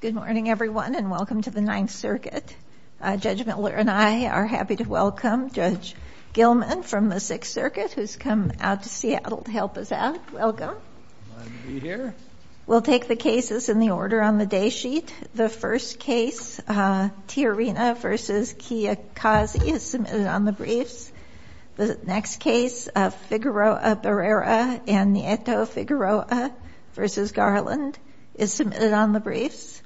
Good morning, everyone, and welcome to the Ninth Circuit. Judge Miller and I are happy to welcome Judge Gilman from the Sixth Circuit, who's come out to Seattle to help us out. Welcome. Glad to be here. We'll take the cases in the order on the day sheet. The first case, Tiarina v. Kiyokazi, is submitted on the briefs. The next case, Figueroa-Berrera and Nieto-Figueroa v. Garland, is submitted on the briefs.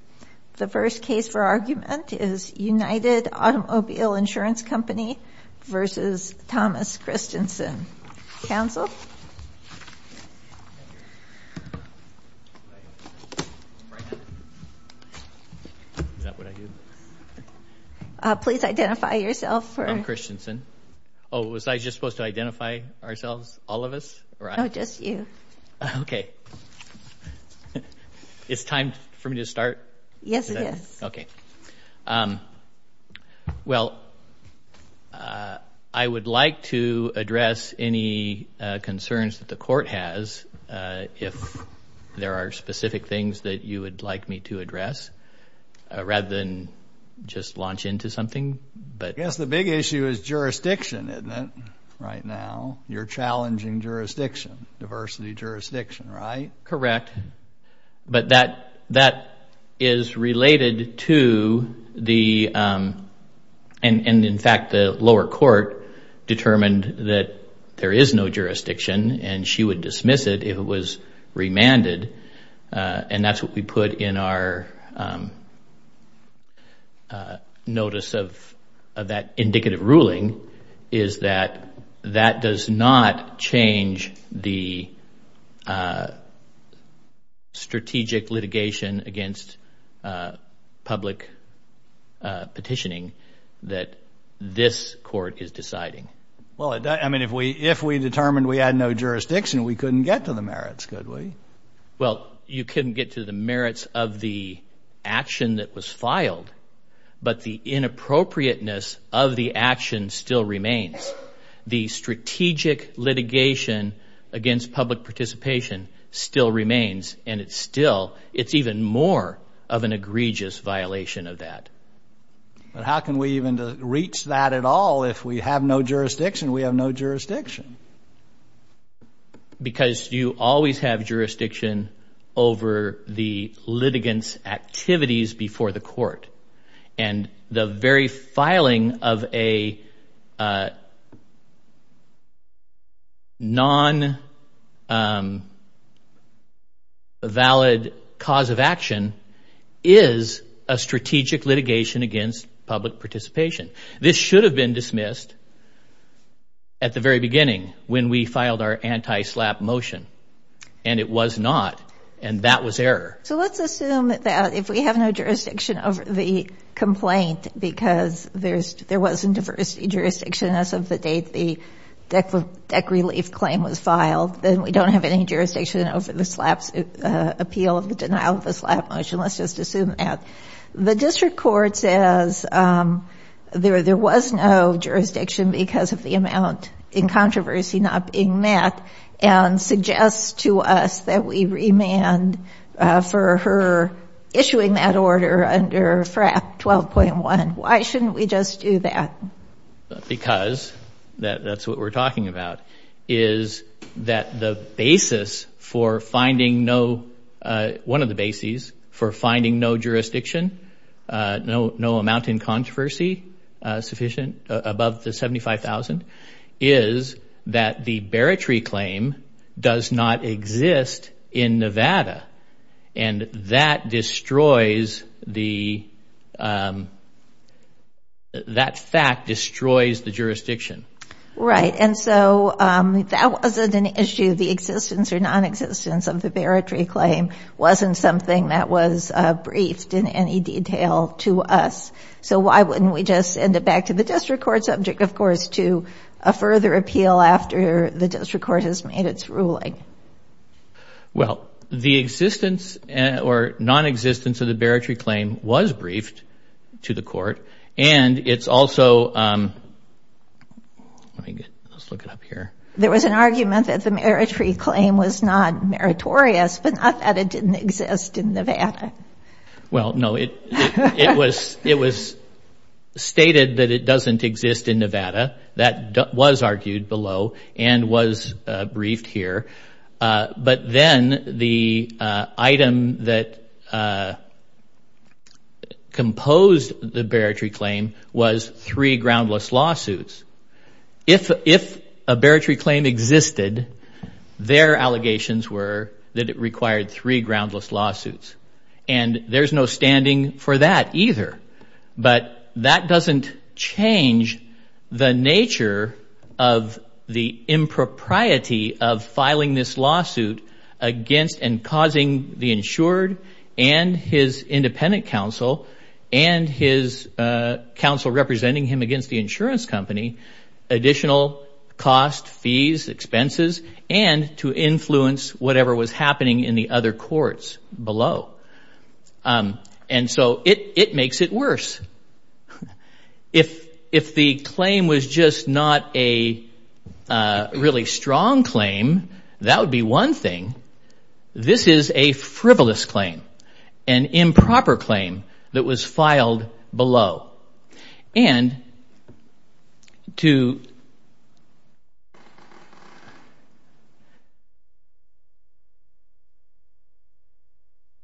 The first case for argument is United Automobile Insurance Company v. Thomas Christensen. Counsel? Is that what I do? Please identify yourself. I'm Christensen. Oh, was I just supposed to identify ourselves, all of us? No, just you. Okay. It's time for me to start? Yes, it is. Okay. Well, I would like to address any concerns that the Court has, if there are specific things that you would like me to address, rather than just launch into something. I guess the big issue is jurisdiction, isn't it, right now? You're challenging jurisdiction, diversity jurisdiction, right? Correct. But that is related to the, and in fact, the lower court determined that there is no jurisdiction and she would dismiss it if it was remanded. And that's what we put in our notice of that indicative ruling, is that that does not change the strategic litigation against public petitioning that this Court is deciding. Well, I mean, if we determined we had no jurisdiction, we couldn't get to the merits, could we? Well, you couldn't get to the merits of the action that was filed, but the inappropriateness of the action still remains. The strategic litigation against public participation still remains and it's still, it's even more of an egregious violation of that. But how can we even reach that at all if we have no jurisdiction? We have no jurisdiction. Because you always have jurisdiction over the litigants' activities before the court. And the very filing of a non-valid cause of action is a strategic litigation against public participation. This should have been dismissed at the very beginning when we filed our anti-SLAPP motion. And it was not. And that was error. So let's assume that if we have no jurisdiction over the complaint because there was a diversity jurisdiction as of the date the deck relief claim was filed, then we don't have any jurisdiction over the SLAPP appeal, the denial of the SLAPP motion. Let's just assume that. The district court says there was no jurisdiction because of the amount in controversy not being met and suggests to us that we remand for her issuing that order under FRAP 12.1. Why shouldn't we just do that? Because that's what we're talking about, is that the basis for finding no, one of the jurisdiction, no amount in controversy sufficient above the 75,000, is that the Beretree claim does not exist in Nevada. And that destroys the, that fact destroys the jurisdiction. Right. And so that wasn't an issue. The existence or nonexistence of the Beretree claim wasn't something that was briefed in any detail to us. So why wouldn't we just send it back to the district court subject, of course, to a further appeal after the district court has made its ruling? Well, the existence or nonexistence of the Beretree claim was briefed to the court. And it's also, let me get, let's look it up here. There was an argument that the Beretree claim was not meritorious, but not that it didn't exist in Nevada. Well, no, it was, it was stated that it doesn't exist in Nevada. That was argued below and was briefed here. But then the item that composed the Beretree claim was three groundless lawsuits. If a Beretree claim existed, their allegations were that it required three groundless lawsuits. And there's no standing for that either. But that doesn't change the nature of the impropriety of filing this lawsuit against and causing the insured and his independent counsel and his counsel representing him against the insurance company additional cost, fees, expenses, and to influence whatever was happening in the other courts below. And so it makes it worse. If the claim was just not a really strong claim, that would be one thing. This is a frivolous claim, an improper claim that was filed below. And to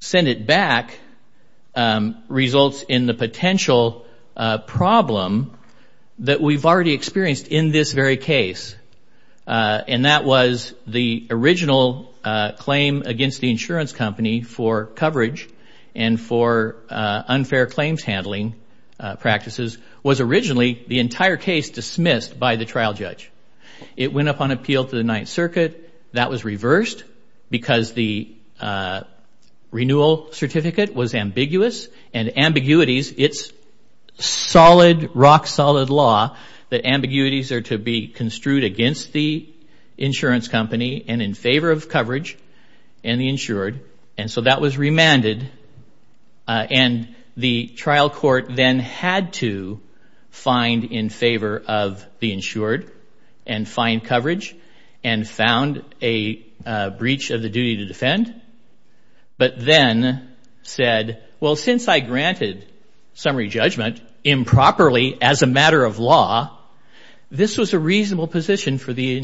send it back results in the potential problem that we've already experienced in this very case. And that was the original claim against the insurance company for coverage and for unfair claims handling practices was originally the entire case dismissed by the trial judge. It went up on appeal to the Ninth Circuit. That was reversed because the renewal certificate was ambiguous. And ambiguities, it's solid, rock-solid law that ambiguities are to be construed against the insurance company and in favor of coverage and the insured. And so that was remanded. And the trial court then had to find in favor of the insured and find coverage and found a breach of the duty to defend. But then said, well, since I granted summary judgment improperly as a matter of law, this was a reasonable position for the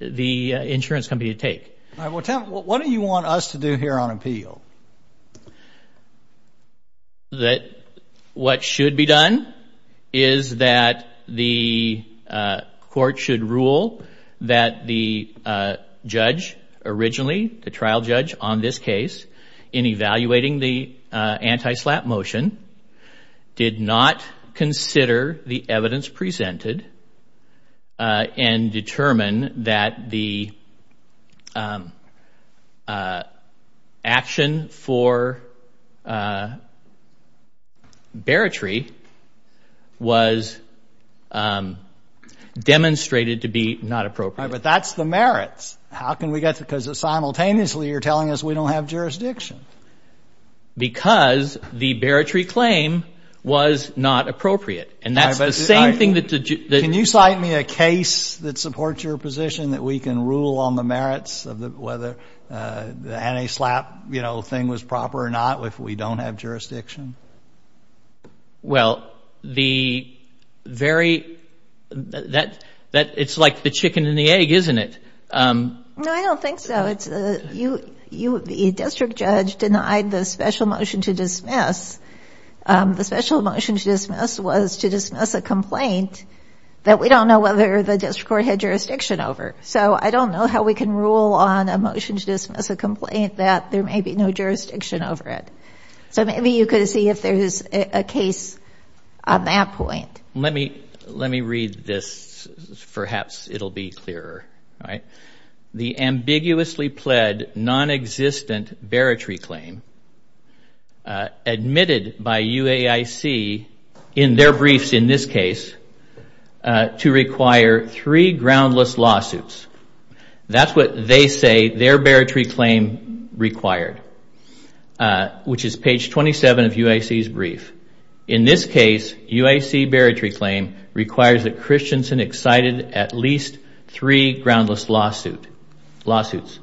insurance company to take. All right. Well, tell me, what do you want us to do here on appeal? That what should be done is that the court should rule that the judge originally, the trial judge on this case, in evaluating the anti-SLAPP motion, did not consider the evidence presented and determined that the action for barratry was demonstrated to be not appropriate. All right. But that's the merits. How can we get, because simultaneously you're telling us we don't have jurisdiction. Because the barratry claim was not appropriate. And that's the same thing that the judge Can you cite me a case that supports your position that we can rule on the merits of whether the anti-SLAPP, you know, thing was proper or not, if we don't have jurisdiction? Well, the very, that it's like the chicken and the egg, isn't it? No, I don't think so. The district judge denied the special motion to dismiss. The special motion to dismiss was to dismiss a complaint that we don't know whether the district court had jurisdiction over. So I don't know how we can rule on a motion to dismiss a complaint that there may be no jurisdiction over it. So maybe you could see if there is a case on that point. Let me let me read this. Perhaps it'll be clearer. All right. The ambiguously pled non-existent barratry claim admitted by UAIC in their briefs, in this case, to require three groundless lawsuits. That's what they say their barratry claim required, which is page 27 of UIC's brief. In this case, UIC barratry claim requires that Christensen excited at least three groundless lawsuits.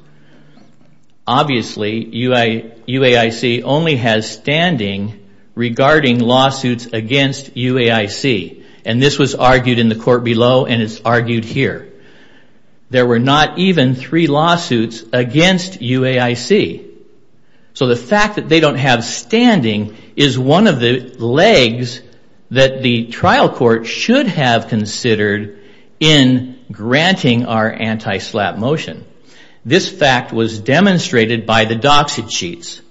Obviously, UAIC only has standing regarding lawsuits against UAIC. And this was argued in the court below, and it's argued here. There were not even three lawsuits against UAIC. So the fact that they don't have standing is one of the legs that the trial court should have considered in granting our anti-SLAPP motion. This fact was demonstrated by the docket sheets.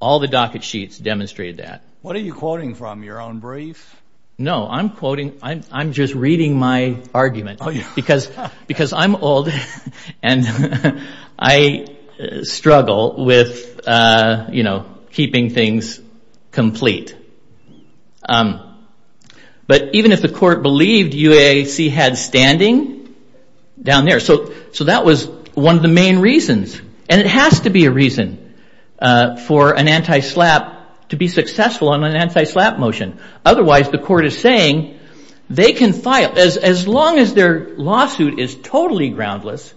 All the docket sheets demonstrated that. What are you quoting from, your own brief? No, I'm quoting, I'm just reading my argument. Because I'm old and I struggle with, you know, keeping things complete. But even if the court believed UAIC had standing down there, so that was one of the main reasons. And it has to be a reason for an anti-SLAPP to be successful on an anti-SLAPP motion. Otherwise, the court is saying they can file, as long as their lawsuit is totally groundless,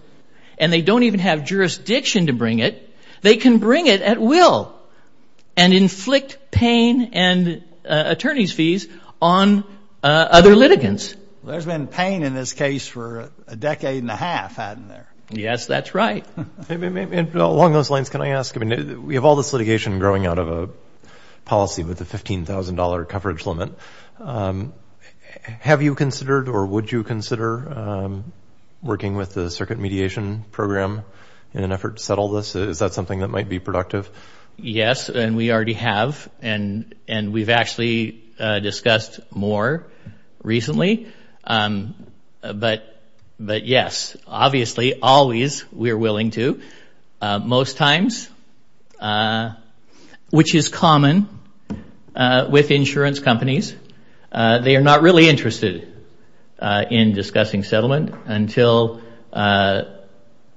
and they don't even have jurisdiction to bring it, they can bring it at will and inflict pain and attorney's fees on other litigants. There's been pain in this case for a decade and a half, hasn't there? Yes, that's right. Along those lines, can I ask, we have all this litigation growing out of a policy with a $15,000 coverage limit. Have you considered or would you consider working with the circuit mediation program in an effort to settle this? Is that something that might be productive? Yes, and we already have. And we've actually discussed more recently. But yes, obviously, always, we are willing to. Most times, which is common with insurance companies, they are not really interested in discussing settlement until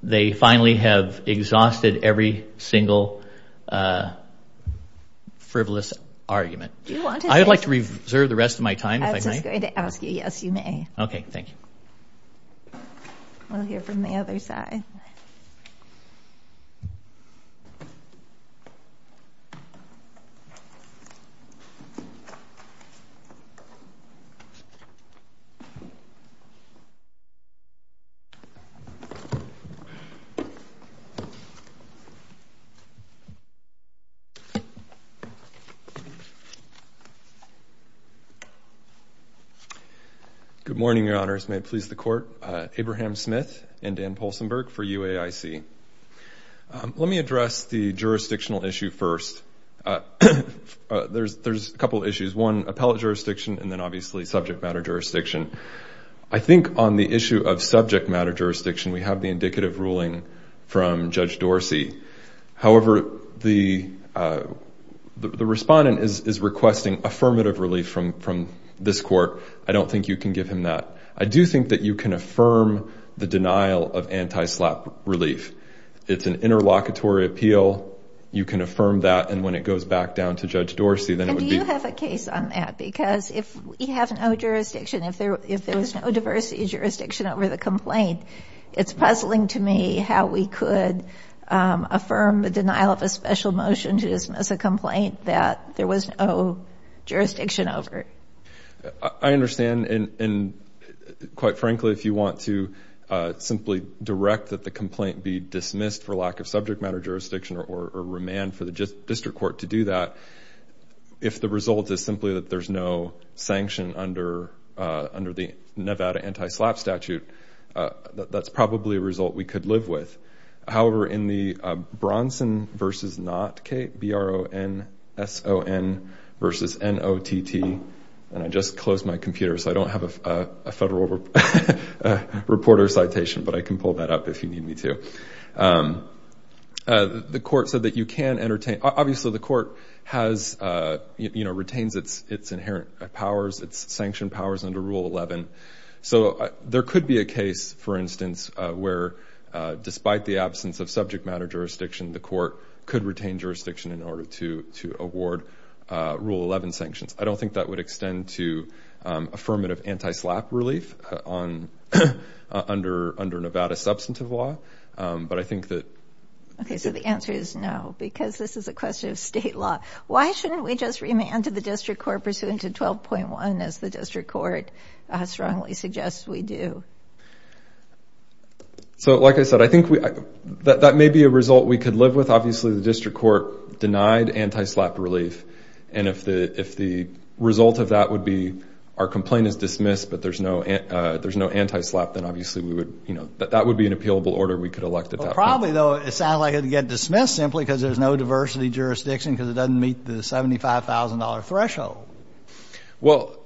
they finally have exhausted every single frivolous argument. I would like to reserve the rest of my time if I may. I was just going to ask you, yes, you may. Okay, thank you. We'll hear from the other side. Good morning, your honors. May it please the court. Abraham Smith and Dan Poulsenberg for UAIC. Let me address the jurisdictional issue first. There's a couple of issues. One, appellate jurisdiction and then obviously subject matter jurisdiction. I think on the issue of subject matter jurisdiction, we have the indicative ruling from Judge Dorsey. However, the respondent is requesting affirmative relief from this court. I don't think you can give him that. I do think that you can affirm the denial of anti-SLAPP relief. It's an interlocutory appeal. You can affirm that. And when it goes back down to Judge Dorsey, then it would be- And do you have a case on that? Because if we have no jurisdiction, if there was no diversity of jurisdiction over the complaint, it's puzzling to me how we could affirm the denial of a special motion to dismiss a complaint that there was no jurisdiction over it. I understand, and quite frankly, if you want to simply direct that the complaint be dismissed for lack of subject matter jurisdiction or remand for the district court to do that, if the result is simply that there's no sanction under the Nevada anti-SLAPP statute, that's probably a result we could live with. However, in the Bronson versus not, K-B-R-O-N-S-O-N versus N-O-T-T, and I just closed my computer so I don't have a federal reporter citation, but I can pull that up if you need me to, the court said that you can entertain- Obviously, the court retains its inherent powers, its sanction powers under Rule 11. So there could be a case, for instance, where despite the absence of subject matter jurisdiction, the court could retain jurisdiction in order to award Rule 11 sanctions. I don't think that would extend to affirmative anti-SLAPP relief under Nevada substantive law, but I think that- Okay, so the answer is no because this is a question of state law. Why shouldn't we just remand to the district court pursuant to 12.1 as the district court strongly suggests we do? So like I said, I think that may be a result we could live with. Obviously, the district court denied anti-SLAPP relief, and if the result of that would be our complaint is dismissed but there's no anti-SLAPP, then obviously that would be an appealable order we could elect at that point. Probably, though, it sounds like it'd get dismissed simply because there's no diversity jurisdiction because it doesn't meet the $75,000 threshold. Well,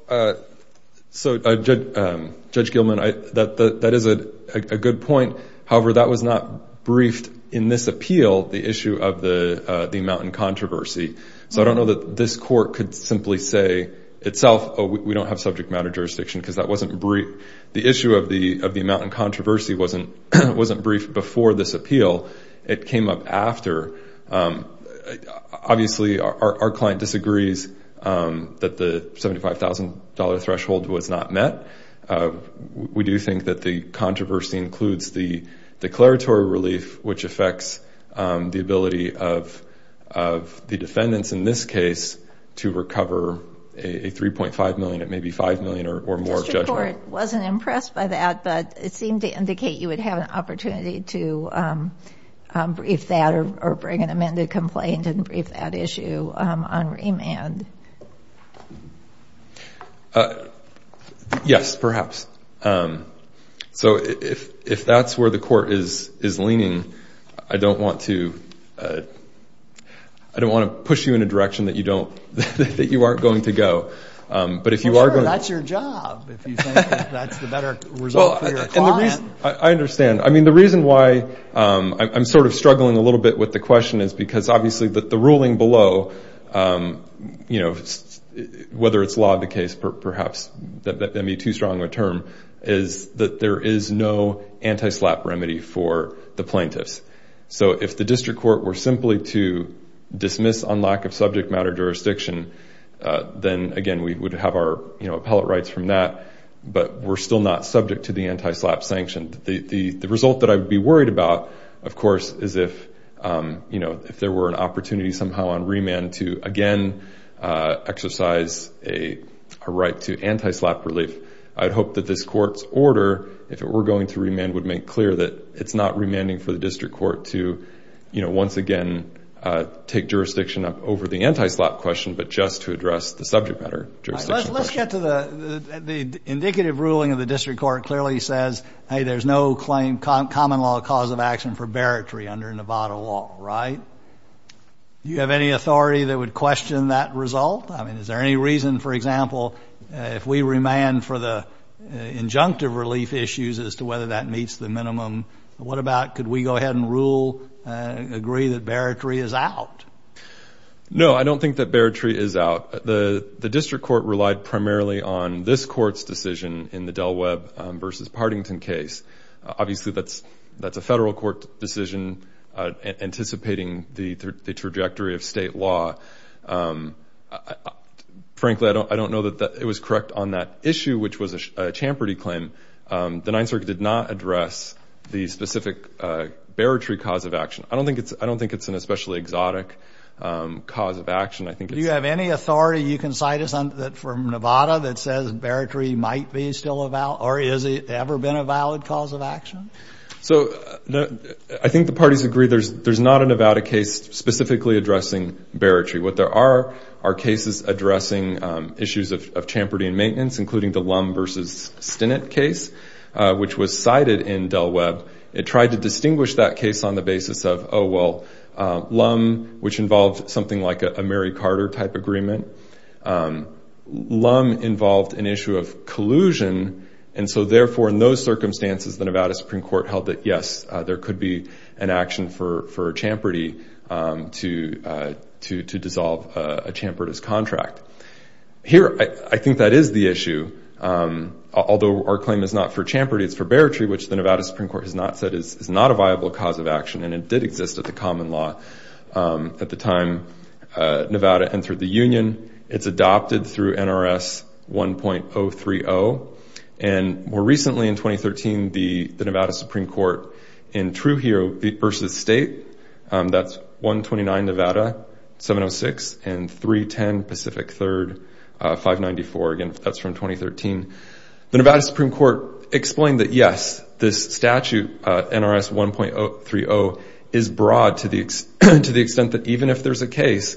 so Judge Gilman, that is a good point. However, that was not briefed in this appeal, the issue of the Mountain Controversy. So I don't know that this court could simply say itself, oh, we don't have subject matter jurisdiction because that wasn't briefed. The issue of the Mountain Controversy wasn't briefed before this appeal. It came up after. Obviously, our client disagrees that the $75,000 threshold was not met. We do think that the controversy includes the declaratory relief, which affects the ability of the defendants in this case to recover a $3.5 million, maybe $5 million or more judgment. The district court wasn't impressed by that, but it seemed to indicate you would have an opportunity to brief that or bring an amended complaint and brief that issue on remand. Yes, perhaps. So if that's where the court is leaning, I don't want to push you in a direction that you aren't going to go. Sure, that's your job, if you think that's the better result for your client. I understand. I mean, the reason why I'm sort of struggling a little bit with the question is because obviously the ruling below, whether it's law of the case perhaps, that may be too strong of a term, is that there is no anti-SLAPP remedy for the plaintiffs. So if the district court were simply to dismiss on lack of subject matter jurisdiction, then again, we would have our appellate rights from that, but we're still not subject to the anti-SLAPP sanction. The result that I would be worried about, of course, is if there were an opportunity somehow on remand to again exercise a right to anti-SLAPP relief. I'd hope that this court's order, if it were going to remand, would make clear that it's not remanding for the district court to once again take jurisdiction over the anti-SLAPP question, but just to address the subject matter jurisdiction question. Let's get to the indicative ruling of the district court clearly says, hey, there's no common law cause of action for barritory under Nevada law, right? Do you have any authority that would question that result? I mean, is there any reason, for example, if we remand for the injunctive relief issues as to whether that meets the minimum, what about, could we go ahead and rule, agree that barritory is out? No, I don't think that barritory is out. The district court relied primarily on this court's decision in the Del Webb versus Partington case. Obviously, that's a federal court decision anticipating the trajectory of state law. Frankly, I don't know that it was correct on that issue, which was a champerty claim. The Ninth Circuit did not address the specific barritory cause of action. I don't think it's an especially exotic cause of action. Do you have any authority, you can cite us from Nevada, that says barritory might be still a valid, or has it ever been a valid cause of action? So, I think the parties agree there's not a Nevada case specifically addressing barritory. What there are are cases addressing issues of champerty and maintenance, including the Lum versus Stinnett case, which was cited in Del Webb. It tried to distinguish that case on the basis of, oh well, Lum, which involved something like a Mary Carter type agreement. Lum involved an issue of collusion, and so therefore, in those circumstances, the Nevada Supreme Court held that yes, there could be an action for a champerty to dissolve a champerty's contract. Here, I think that is the issue. Although our claim is not for champerty, it's for barritory, which the Nevada Supreme Court has not said is not a viable cause of action, and it did exist at the common law at the time Nevada entered the union. It's adopted through NRS 1.030. And more recently, in 2013, the Nevada Supreme Court, in Trujillo versus State, that's 129 Nevada, 706, and 310 Pacific 3rd, 594. Again, that's from 2013. The Nevada Supreme Court explained that yes, this statute, NRS 1.030, is broad to the extent that even if there's a case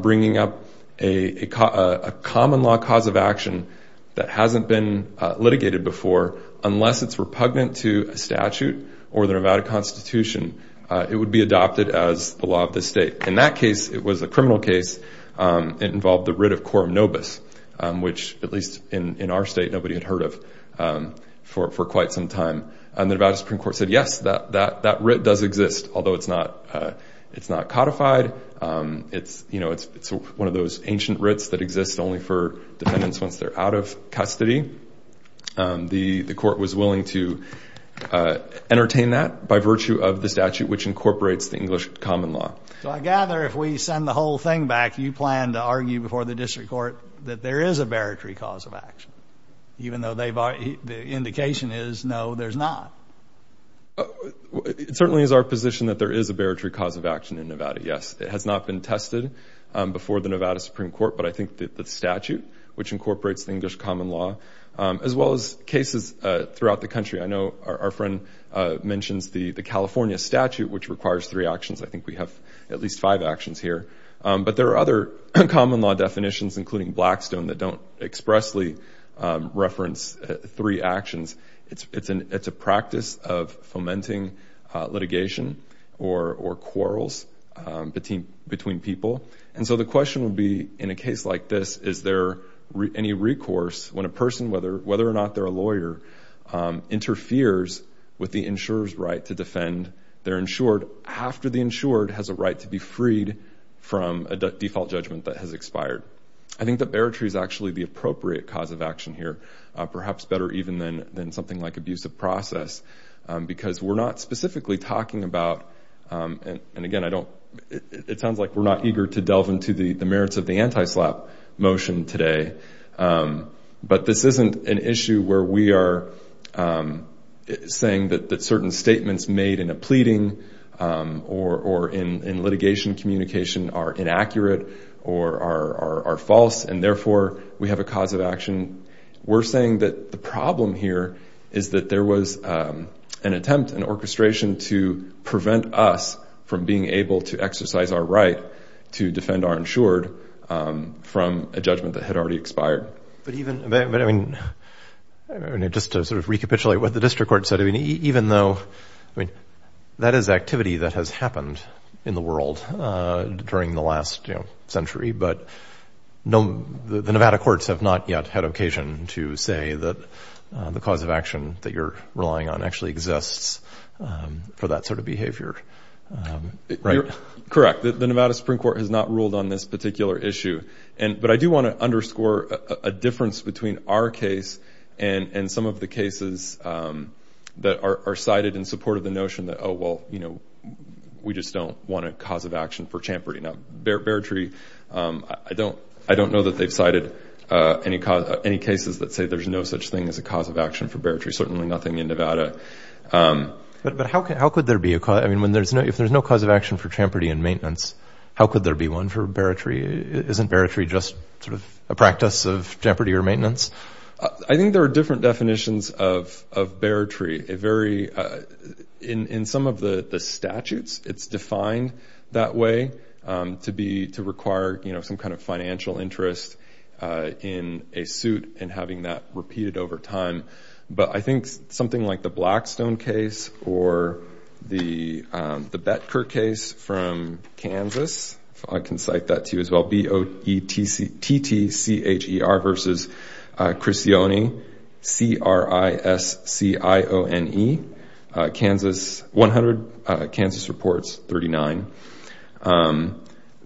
bringing up a common law cause of action that hasn't been litigated before, unless it's repugnant to a statute or the Nevada Constitution, it would be adopted as the law of the state. In that case, it was a criminal case. It involved the writ of quorum nobis, which, at least in our state, nobody had heard of for quite some time. And the Nevada Supreme Court said, yes, that writ does exist, although it's not codified. It's one of those ancient writs that exist only for defendants once they're out of custody. The court was willing to entertain that by virtue of the statute, which incorporates the English common law. So I gather if we send the whole thing back, you plan to argue before the district court that there is a baritary cause of action, even though the indication is no, there's not. It certainly is our position that there is a baritary cause of action in Nevada. Yes, it has not been tested before the Nevada Supreme Court, but I think that the statute, which incorporates the English common law, as well as cases throughout the country, I know our friend mentions the California statute, which requires three actions. I think we have at least five actions here. But there are other common law definitions, including Blackstone, that don't expressly reference three actions. It's a practice of fomenting litigation or quarrels between people. And so the question would be, in a case like this, is there any recourse when a person, whether or not they're a lawyer, interferes with the insurer's right to defend their insured after the insured has a right to be freed from a default judgment that has expired. I think that baritary is actually the appropriate cause of action here, perhaps better even than something like abusive process, because we're not specifically talking about, and again, it sounds like we're not eager to delve into the merits of the anti-SLAPP motion today, but this isn't an issue where we are saying that certain statements made in a pleading or in litigation communication are inaccurate or are false, and therefore we have a cause of action. We're saying that the problem here is that there was an attempt, an orchestration to prevent us from being able to exercise our right to defend our insured from a judgment that had already expired. But even, but I mean, just to sort of recapitulate what the district court said, I mean, even though, I mean, that is activity that has happened in the world during the last, you know, century, but the Nevada courts have not yet had occasion to say that the cause of action that you're relying on actually exists for that sort of behavior, right? Correct. The Nevada Supreme Court has not ruled on this particular issue, but I do want to underscore a difference between our case and some of the cases that are cited in support of the notion that, oh, well, you know, we just don't want a cause of action for Champerty. Now, Beartree, I don't know that they've cited any cases that say there's no such thing as a cause of action for Beartree, certainly nothing in Nevada. But how could there be a, I mean, if there's no cause of action for Champerty in maintenance, how could there be one for Beartree? Isn't Beartree just sort of a practice of Champerty or maintenance? I think there are different definitions of Beartree. It very, in some of the statutes, it's defined that way to be, to require, you know, some kind of financial interest in a suit and having that repeated over time. But I think something like the Blackstone case or the Betker case from Kansas, I can cite that to you as well, B-O-E-T-T-C-H-E-R versus Criscione, C-R-I-S-C-I-O-N-E, Kansas, 100 Kansas reports, 39.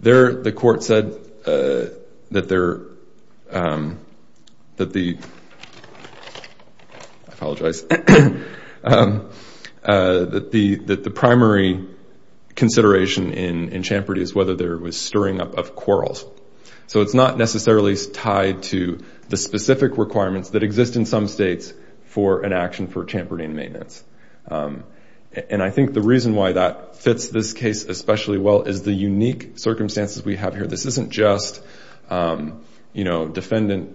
The court said that they're, that the, I apologize, that the primary consideration in Champerty is whether there was stirring up of quarrels. So it's not necessarily tied to the specific requirements that exist in some states for an action for Champerty in maintenance. And I think the reason why that fits this case especially well is the unique circumstances we have here. This isn't just, you know, people in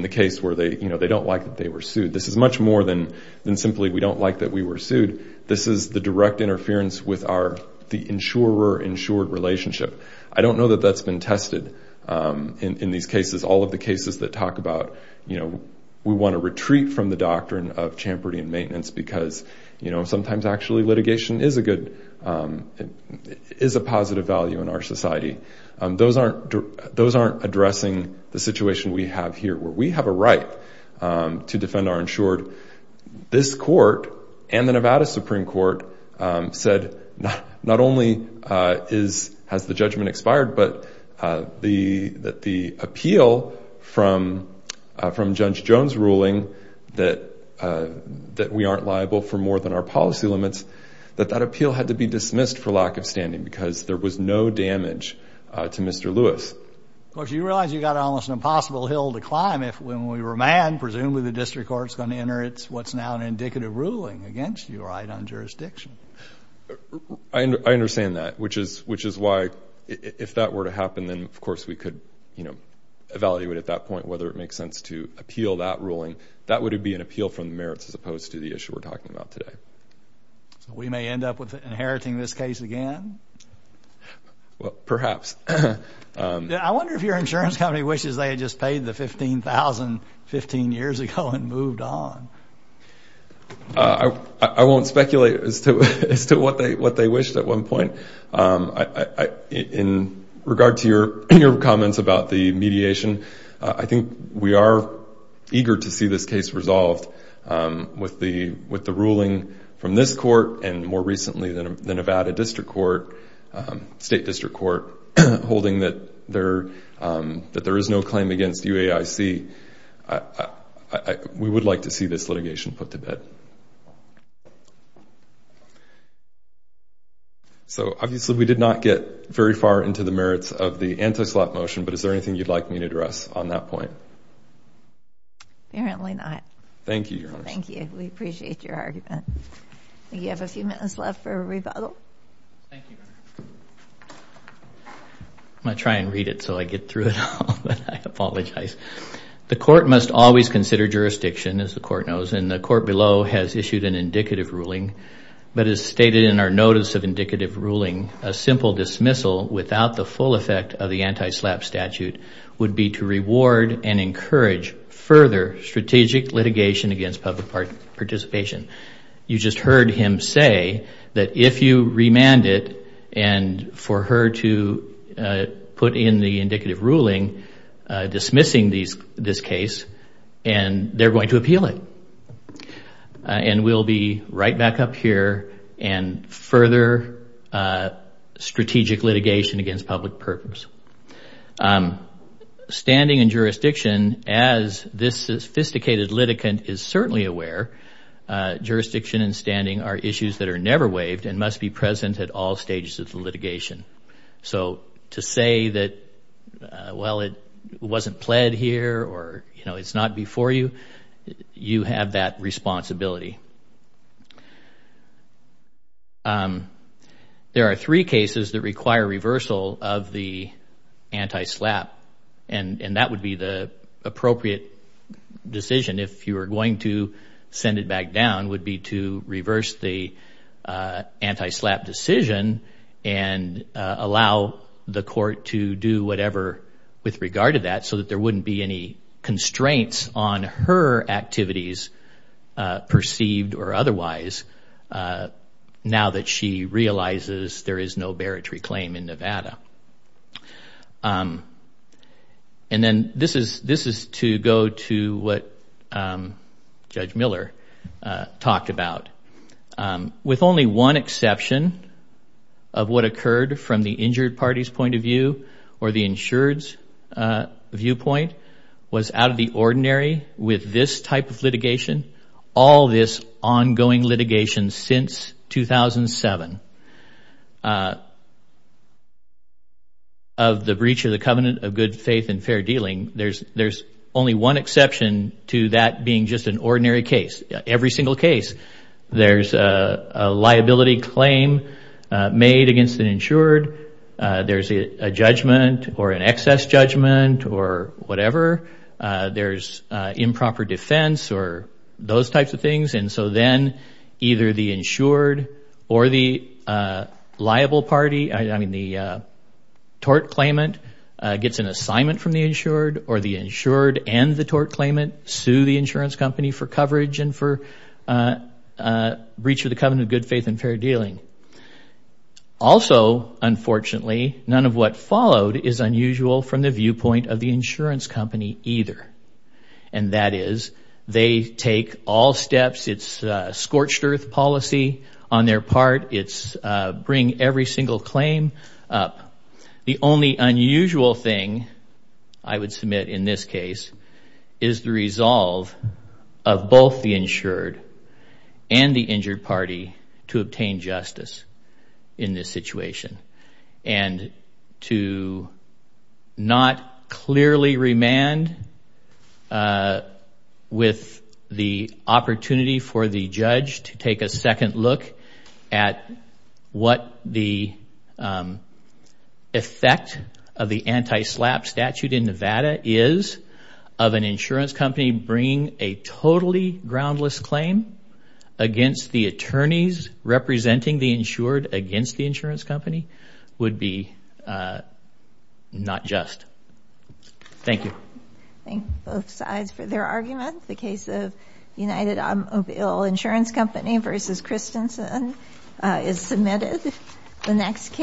the case where they, you know, they don't like that they were sued. This is much more than simply we don't like that we were sued. This is the direct interference with our, the insurer-insured relationship. I don't know that that's been tested in these cases, all of the cases that talk about, you know, we want to retreat from the doctrine of Champerty in maintenance because, you know, sometimes actually litigation is a good, is a positive value in our society. Those aren't addressing the situation we have here where we have a right to defend our insured. This court and the Nevada Supreme Court said not only has the judgment expired but the appeal from Judge Jones' ruling that we aren't liable for more than our policy limits that that appeal had to be dismissed for lack of standing because there was no damage to Mr. Lewis. Of course, you realize you've got almost an impossible hill to climb if when we remand, presumably the district court's going to enter it's what's now an indicative ruling against you, right, on jurisdiction. I understand that, which is why if that were to happen, then of course we could, you know, if it makes sense to appeal that ruling, that would be an appeal from the merits as opposed to the issue we're talking about today. So we may end up inheriting this case again? Well, perhaps. I wonder if your insurance company wishes they had just paid the $15,000 15 years ago and moved on. I won't speculate as to what they wished at one point. In regard to your comments about the mediation, I think we are eager to see this case resolved with the ruling from this court and more recently the Nevada district court state district court holding that there is no claim against UAIC. We would like to see this litigation put to bed. So obviously we did not get very far into the merits of the anti-slap motion, but is there anything you'd like me to address on that point? Apparently not. Thank you. We appreciate your argument. You have a few minutes left for a rebuttal. I'm going to try and read it so I get through it all, but I apologize. The court must always consider jurisdiction, as the court knows, and the court below has issued an indicative ruling, but as stated in our notice of indicative ruling, a simple dismissal without the full effect of the anti-slap statute would be to reward and encourage further strategic litigation against public participation. You just heard him say that if you remand it and for her to put in the indicative ruling dismissing this case, they're going to appeal it. And we'll be right back up here and further strategic litigation against public purpose. Standing and jurisdiction, as this sophisticated litigant is certainly aware, jurisdiction and standing are issues that are never waived and must be present at all stages of the litigation. So to say that, well, it wasn't pled here or it's not before you, you have that responsibility. There are three cases that require reversal of the anti-slap and that would be the appropriate decision if you were going to send it back down, would be to reverse the anti-slap decision and allow the court to do whatever with regard to that so that there wouldn't be any constraints on her activities perceived or otherwise now that she realizes there is no baritary claim in Nevada. And then this is to go to what Judge Miller talked about. With only one exception of what occurred from the injured party's point of view or the insured's viewpoint was out of the ordinary with this type of litigation. All this ongoing litigation since 2007 of the breach of the covenant of good faith and fair dealing, there's only one exception to that being just an ordinary case. Every single case, there's a liability claim made against an insured, there's a judgment or an excess judgment or whatever, there's improper defense or those types of things and so then either the insured or the liable party, I mean the tort claimant gets an assignment from the insured or the insured and the tort claimant sue the insurance company for coverage and for breach of the covenant of good faith and fair dealing. Also, unfortunately, none of what followed is unusual from the viewpoint of the insurance company either. And that is they take all steps, it's scorched earth policy on their part, it's bring every single claim up. The only unusual thing, I would submit in this case, is the resolve of both the insured and the injured party to obtain justice in this situation and to not clearly remand with the opportunity for the judge to take a second look at what the effect of the anti-slap statute in Nevada is of an insurance company bringing a totally groundless claim against the attorneys representing the insured against the insurance company would be not just. Thank you. Thank both sides for their argument. The case of United Automobile Insurance Company versus Christensen is submitted. The next case...